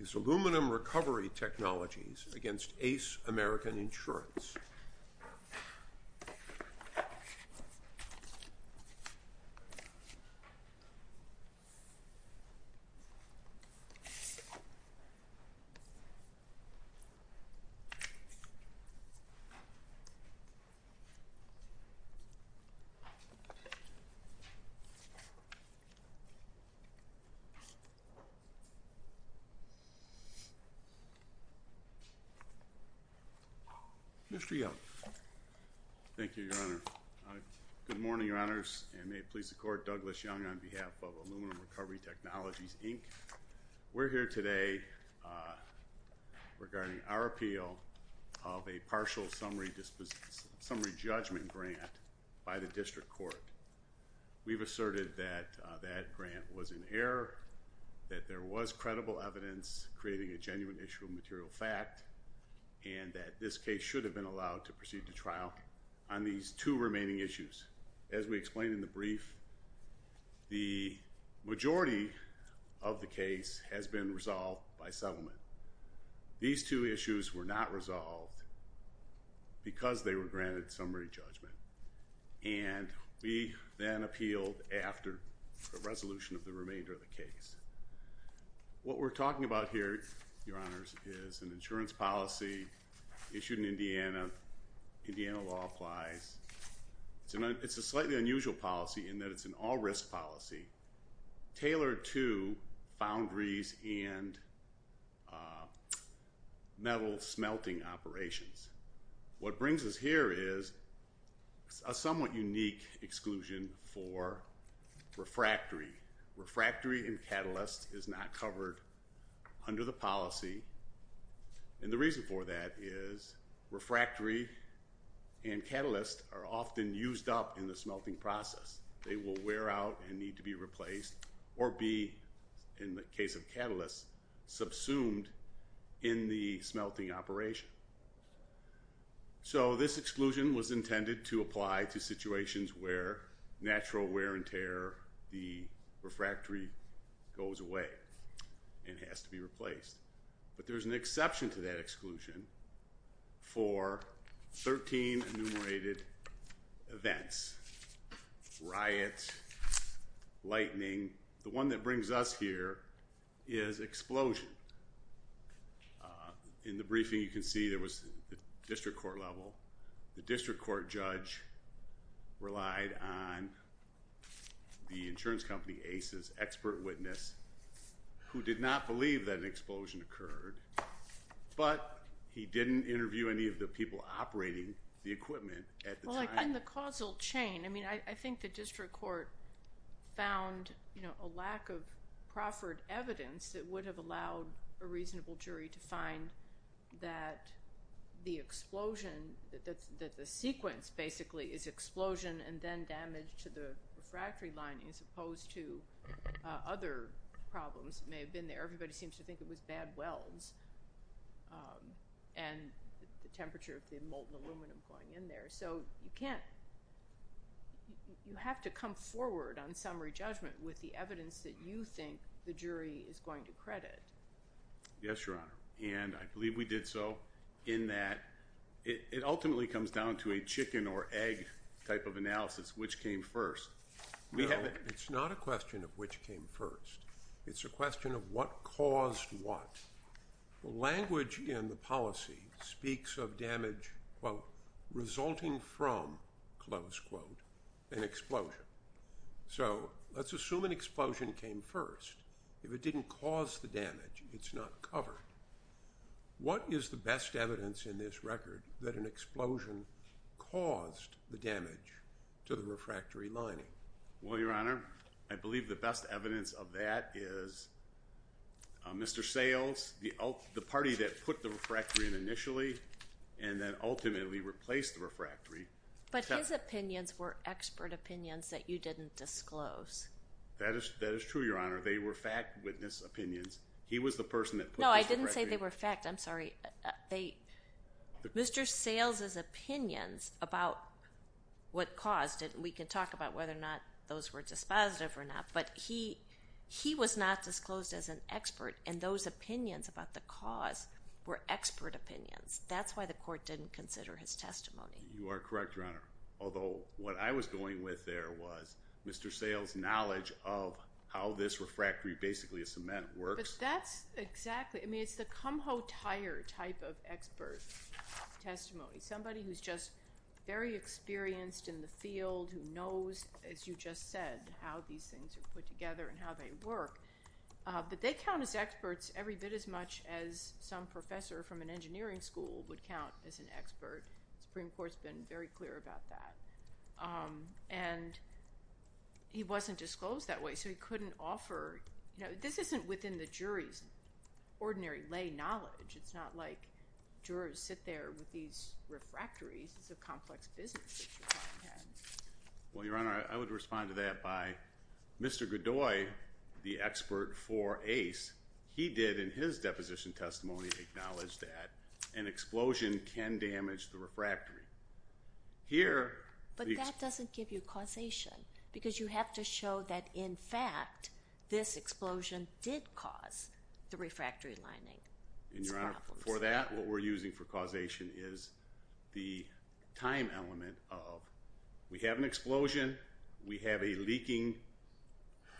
is Aluminum Recovery Technologies against Ace American Insurance. Mr. Young. Thank you, Your Honor. Good morning, Your Honors, and may it please the Court, Douglas Young on behalf of Aluminum Recovery Technologies, Inc. We're here today regarding our appeal of a partial summary judgment grant by the District Court. We've asserted that grant was in error, that there was credible evidence creating a genuine issue of material fact, and that this case should have been allowed to proceed to trial on these two remaining issues. As we explained in the brief, the majority of the case has been resolved by settlement. These two issues were not resolved because they were granted summary judgment, and we then appealed after the resolution of the remainder of the case. What we're talking about here, Your Honors, is an insurance policy issued in Indiana. Indiana law applies. It's a slightly unusual policy in that it's an all-risk policy tailored to foundries and metal smelting operations. What brings us here is a somewhat unique exclusion for refractory. Refractory and catalyst is not covered under the policy, and the reason for that is refractory and catalyst are often used up in the smelting process. They will wear out and need to be replaced in the smelting operation. So this exclusion was intended to apply to situations where natural wear and tear, the refractory goes away and has to be replaced. But there's an exception to that exclusion for 13 enumerated events. Riots, lightning. The one that brings us here is explosion. In the briefing, you can see there was, at the district court level, the district court judge relied on the insurance company, Aces, expert witness, who did not believe that an explosion occurred, but he didn't interview any of the people operating the equipment at the time. But in the causal chain, I think the district court found a lack of proffered evidence that would have allowed a reasonable jury to find that the explosion, that the sequence basically is explosion and then damage to the refractory lining as opposed to other problems that may have been there. Everybody seems to think it was bad welds and the temperature of the equipment. You have to come forward on summary judgment with the evidence that you think the jury is going to credit. Yes, Your Honor. And I believe we did so in that it ultimately comes down to a chicken or egg type of analysis, which came first. It's not a question of which came first. It's a question of what caused what. The language in the policy speaks of damage, quote, resulting from, close quote, an explosion. So let's assume an explosion came first. If it didn't cause the damage, it's not covered. What is the best evidence in this record that an explosion caused the damage to the refractory lining? Well, Your Honor, I believe the best evidence of that is Mr. Sayles, the party that put the refractory in initially and then ultimately replaced the refractory. But his opinions were expert opinions that you didn't disclose. That is true, Your Honor. They were fact witness opinions. He was the person that put the refractory. No, I didn't say they were fact. I'm sorry. Mr. Sayles' opinions about what caused it, we can talk about whether or not those were dispositive or not, but he was not disclosed as an expert, and those opinions about the cause were expert opinions. That's why the court didn't consider his testimony. You are correct, Your Honor, although what I was going with there was Mr. Sayles' knowledge of how this refractory, basically a cement, works. But that's exactly, I mean, it's the come-ho-tire type of expert testimony. Somebody who's just very experienced in the field, who knows, as you just said, how these things are put together and how they work. But they count as experts every bit as much as some professor from an engineering school would count as an expert. The Supreme Court's been very clear about that. And he wasn't disclosed that way, so he couldn't offer, you know, this isn't within the jury's ordinary lay knowledge. It's not like jurors sit there with these refractories. It's a complex business that you're talking about. Well, Your Honor, I would respond to that by Mr. Godoy, the expert for ACE, he did in his deposition testimony acknowledge that an explosion can damage the refractory. Here... But that doesn't give you causation, because you have to show that, in fact, this explosion did cause the refractory lining. And, Your Honor, for that, what we're using for causation is the time element of, we have an explosion, we have a leaking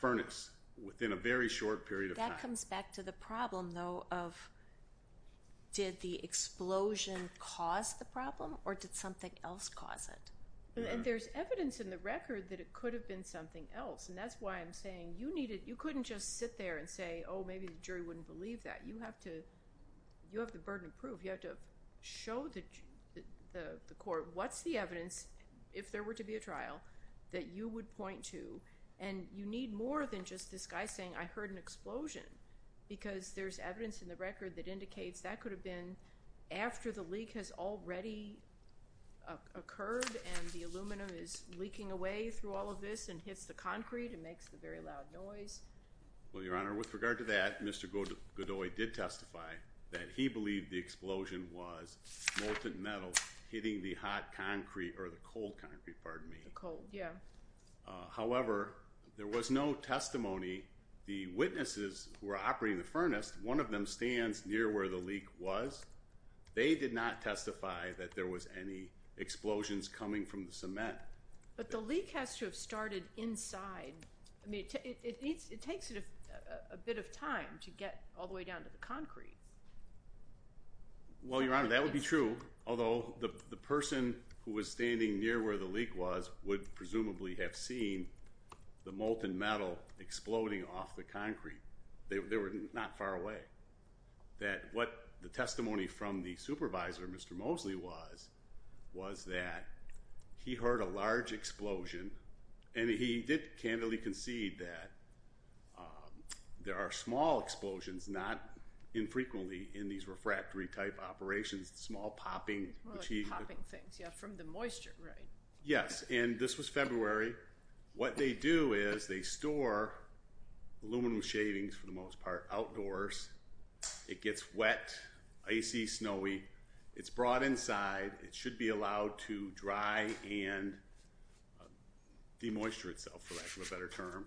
furnace within a very short period of time. That comes back to the problem, though, of did the explosion cause the problem, or did something else cause it? And there's evidence in the record that it could have been something else, and that's why I'm saying you needed, you couldn't just sit there and say, oh, maybe the jury wouldn't believe that. You have to, you have the burden of proof. You have to show the court what's the evidence, if there were to be a trial, that you would point to, and you need more than just this guy saying, I heard an explosion, because there's evidence in the record that indicates that could have been after the leak has already occurred and the aluminum is leaking away through all of this and hits the concrete and makes the very loud noise. Well, Your Honor, with regard to that, Mr. Godoy did testify that he believed the explosion was molten metal hitting the hot concrete, or the cold concrete, pardon me. The cold, yeah. However, there was no testimony, the witnesses who are operating the furnace, one of them stands near where the leak was. They did not testify that there was any explosions coming from the cement. But the leak has to have started inside. I mean, it takes a bit of time to get all the way down to the concrete. Well, Your Honor, that would be true, although the person who was standing near where the leak was would presumably have seen the molten metal exploding off the concrete. They were not far away. That what the testimony from the supervisor, Mr. Mosley, was, was that he heard a large explosion and he did candidly concede that there are small explosions, not infrequently in these refractory type operations, small popping, which he- More like popping things, yeah, from the moisture, right? Yes, and this was February. What they do is they store aluminum shavings, for the most part, outdoors. It gets wet, icy, snowy. It's brought inside. It should be allowed to dry and de-moisture itself, for lack of a better term.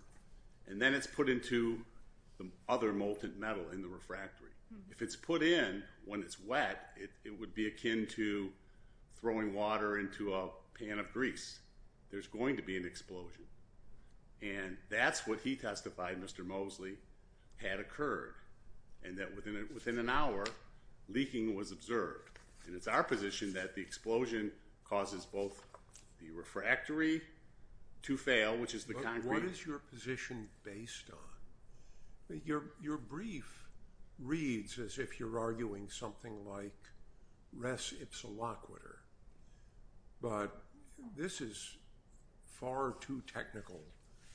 And then it's put into the other molten metal in the refractory. If it's put in when it's wet, it would be akin to throwing water into a pan of grease. There's going to be an explosion. And that's what he testified, Mr. Mosley, had occurred, and that within an hour, leaking was observed. And it's our position that the explosion causes both the refractory to fail, which is the concrete- What is your position based on? Your brief reads as if you're arguing something like res ipsa loquitur, but this is far too technical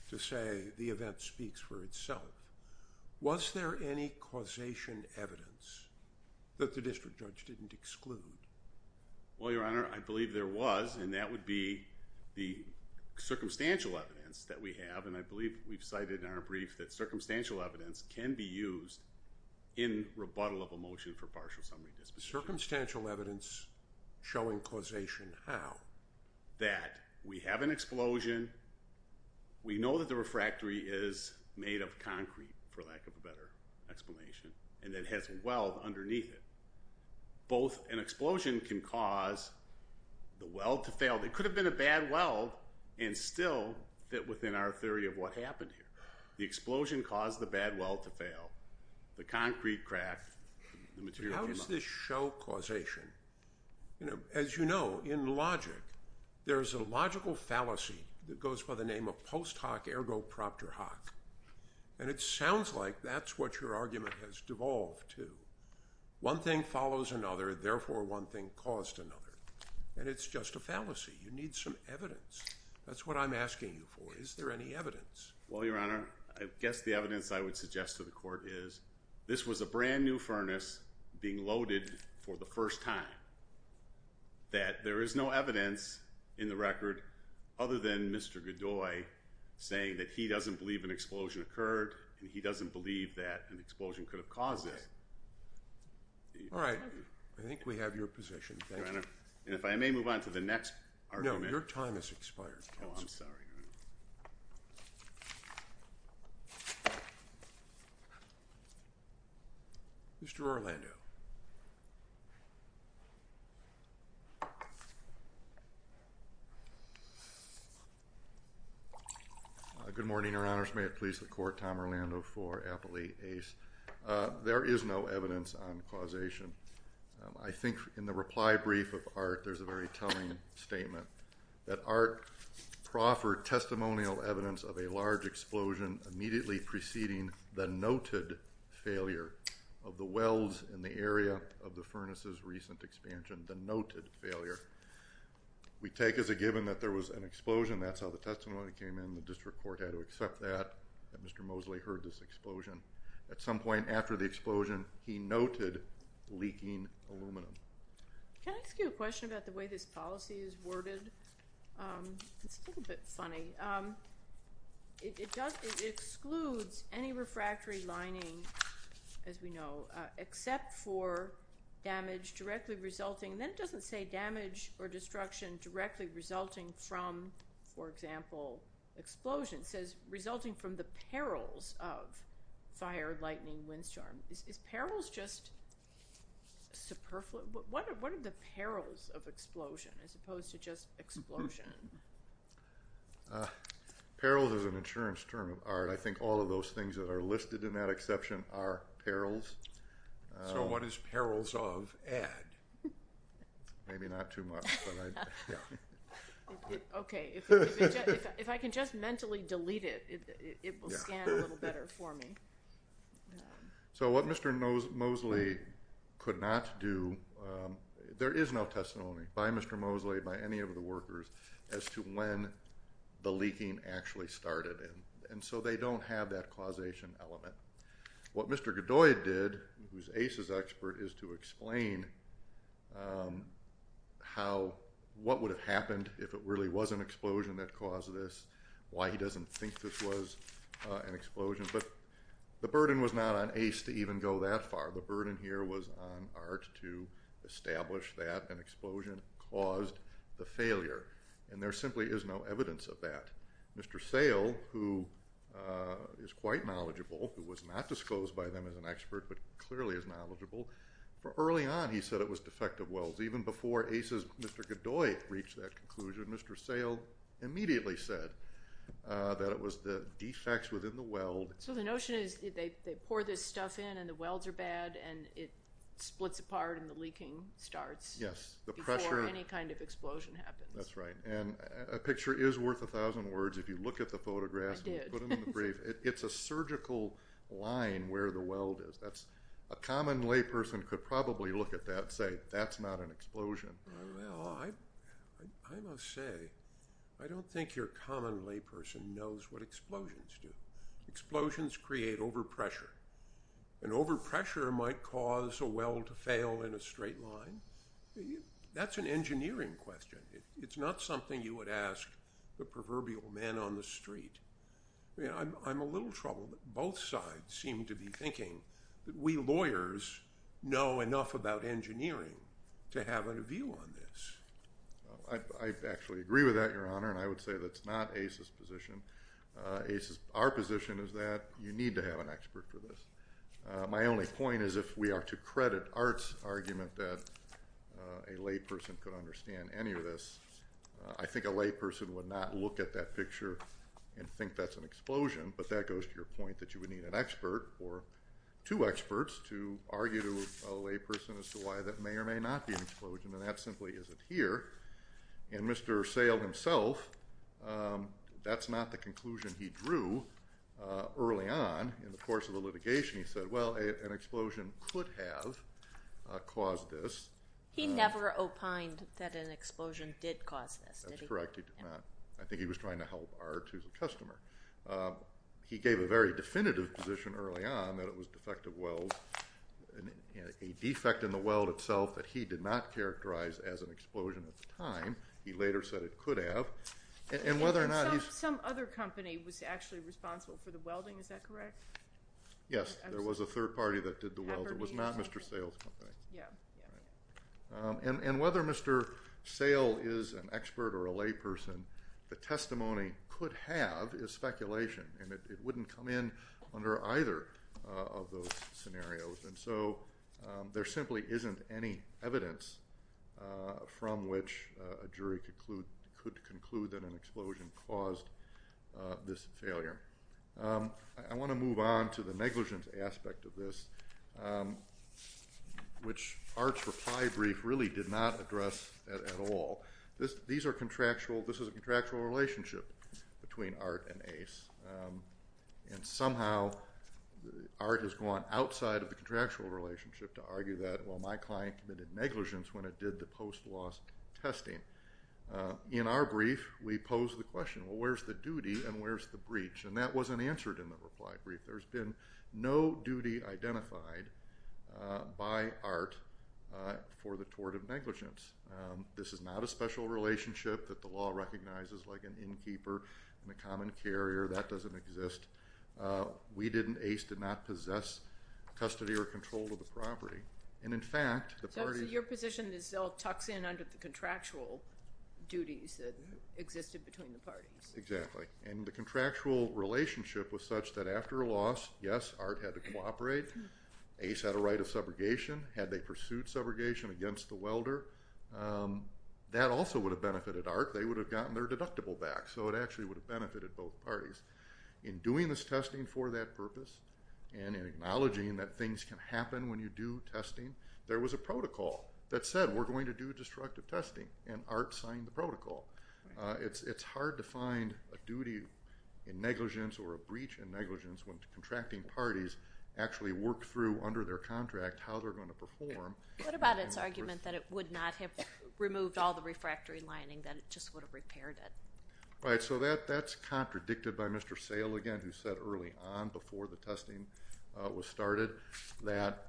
to say the event speaks for itself. Was there any causation evidence that the district judge didn't exclude? Well, Your Honor, I believe there was, and that would be the circumstantial evidence that we have. And I believe we've cited in our brief that circumstantial evidence can be used in rebuttal of a motion for partial summary disposition. Circumstantial evidence showing causation how? That we have an explosion. We know that the refractory is made of concrete, for lack of a better explanation, and it has a weld underneath it. Both an explosion can cause the weld to fail. It could have been a bad weld, and still fit within our theory of what happened here. The explosion caused the bad weld to fail, the concrete cracked, the material- How does this show causation? As you know, in logic, there is a logical fallacy that goes by the name of post hoc ergo proctor hoc, and it sounds like that's what your argument has devolved to. One thing follows another, therefore one thing caused another. And it's just a fallacy. You need some evidence. That's what I'm asking you for. Is there any evidence? Well, Your Honor, I guess the evidence I would suggest to the court is this was a brand new furnace being loaded for the first time. That there is no evidence in the record other than Mr. Godoy saying that he doesn't believe an explosion occurred, and he doesn't believe that an explosion could have caused this. All right. I think we have your position. Thank you. Your Honor, if I may move on to the next argument. No, your time has expired, Counselor. Oh, I'm sorry, Your Honor. Mr. Orlando. Thank you. Good morning, Your Honors. May it please the court, Tom Orlando for Appley Ace. There is no evidence on causation. I think in the reply brief of Art, there's a very telling statement that Art proffered testimonial evidence of a large explosion immediately preceding the noted failure of the wells in the area of the furnace's recent expansion, the noted failure. We take as a given that there was an explosion. That's how the testimony came in. The district court had to accept that, that Mr. Mosley heard this explosion. At some point after the explosion, he noted leaking aluminum. Can I ask you a question about the way this policy is worded? It's a little bit funny. It excludes any refractory lining, as we know, except for damage directly resulting. Then it doesn't say damage or destruction directly resulting from, for example, explosion. It says resulting from the perils of fire, lightning, windstorm. Is perils just superfluous? What are the perils of explosion as opposed to just explosion? Perils is an insurance term of Art. I think all of those things that are listed in that exception are perils. So what is perils of Ed? Maybe not too much. Okay. If I can just mentally delete it, it will scan a little better for me. So what Mr. Mosley could not do, there is no testimony by Mr. Mosley, by any of the workers, as to when the leaking actually started. And so they don't have that causation element. What Mr. Godoy did, who's ACE's expert, is to explain how what would have happened if it really was an explosion that caused this, why he doesn't think this was an explosion. But the burden was not on ACE to even go that far. The burden here was on Art to establish that an explosion caused the failure. And there simply is no evidence of that. Mr. Sale, who is quite knowledgeable, who was not disclosed by them as an expert but clearly is knowledgeable, for early on he said it was defective welds. Even before ACE's Mr. Godoy reached that conclusion, Mr. Sale immediately said that it was the defects within the weld. So the notion is they pour this stuff in and the welds are bad and it splits apart and the leaking starts. Yes. Before any kind of explosion happens. That's right. And a picture is worth a thousand words if you look at the photographs. I did. It's a surgical line where the weld is. A common layperson could probably look at that and say that's not an explosion. Well, I must say, I don't think your common layperson knows what explosions do. Explosions create overpressure. And overpressure might cause a weld to fail in a straight line. That's an engineering question. It's not something you would ask the proverbial man on the street. I'm a little troubled that both sides seem to be thinking that we lawyers know enough about engineering to have a view on this. I actually agree with that, Your Honor, and I would say that's not ACE's position. Our position is that you need to have an expert for this. My only point is if we are to credit Art's argument that a layperson could understand any of this, I think a layperson would not look at that picture and think that's an explosion. But that goes to your point that you would need an expert or two experts to argue to a layperson as to why that may or may not be an explosion. And that simply isn't here. And Mr. Sale himself, that's not the conclusion he drew early on in the course of the litigation. He said, well, an explosion could have caused this. He never opined that an explosion did cause this, did he? That's correct. He did not. I think he was trying to help Art, who's a customer. He gave a very definitive position early on that it was defective welds, a defect in the weld itself that he did not characterize as an explosion at the time. He later said it could have. Some other company was actually responsible for the welding, is that correct? Yes, there was a third party that did the welding. It was not Mr. Sale's company. Yeah. And whether Mr. Sale is an expert or a layperson, the testimony could have is speculation, and it wouldn't come in under either of those scenarios. And so there simply isn't any evidence from which a jury could conclude that an explosion caused this failure. I want to move on to the negligence aspect of this, which Art's reply brief really did not address at all. This is a contractual relationship between Art and Ace, and somehow Art has gone outside of the contractual relationship to argue that, well, my client committed negligence when it did the post-loss testing. In our brief, we pose the question, well, where's the duty and where's the breach? And that wasn't answered in the reply brief. There's been no duty identified by Art for the tort of negligence. This is not a special relationship that the law recognizes like an innkeeper and a common carrier. That doesn't exist. We didn't, Ace did not possess custody or control of the property. And, in fact, the party- So your position is they'll tux in under the contractual duties that existed between the parties. Exactly. And the contractual relationship was such that after a loss, yes, Art had to cooperate. Ace had a right of subrogation. Had they pursued subrogation against the welder, that also would have benefited Art. They would have gotten their deductible back. So it actually would have benefited both parties. In doing this testing for that purpose and in acknowledging that things can happen when you do testing, there was a protocol that said, we're going to do destructive testing, and Art signed the protocol. It's hard to find a duty in negligence or a breach in negligence when contracting parties actually work through under their contract how they're going to perform. What about its argument that it would not have removed all the refractory lining, that it just would have repaired it? Right. So that's contradicted by Mr. Sale again, who said early on before the testing was started, that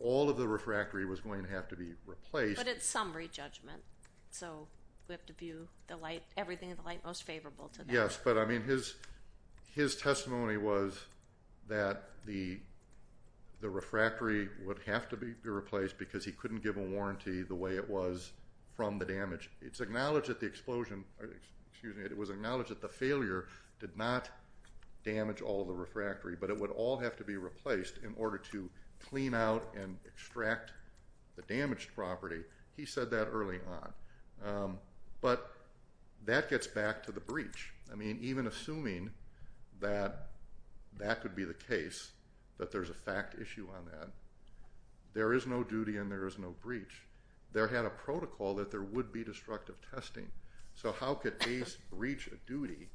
all of the refractory was going to have to be replaced. But it's summary judgment. So we have to view the light, everything in the light most favorable to that. Yes. But, I mean, his testimony was that the refractory would have to be replaced because he couldn't give a warranty the way it was from the damage. It's acknowledged that the explosion, excuse me, it was acknowledged that the failure did not damage all the refractory, but it would all have to be replaced in order to clean out and extract the damaged property. He said that early on. But that gets back to the breach. I mean, even assuming that that could be the case, that there's a fact issue on that, there is no duty and there is no breach. There had a protocol that there would be destructive testing. So how could ACE reach a duty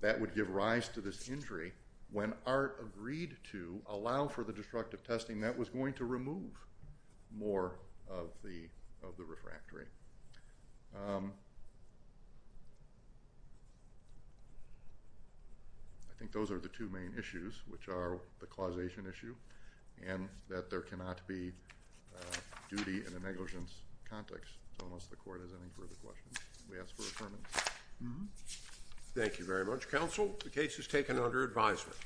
that would give rise to this injury when ART agreed to allow for the destructive testing that was going to remove more of the refractory? I think those are the two main issues, which are the causation issue and that there cannot be duty in a negligence context. So unless the court has any further questions, we ask for affirmation. Thank you very much. Counsel, the case is taken under advisement.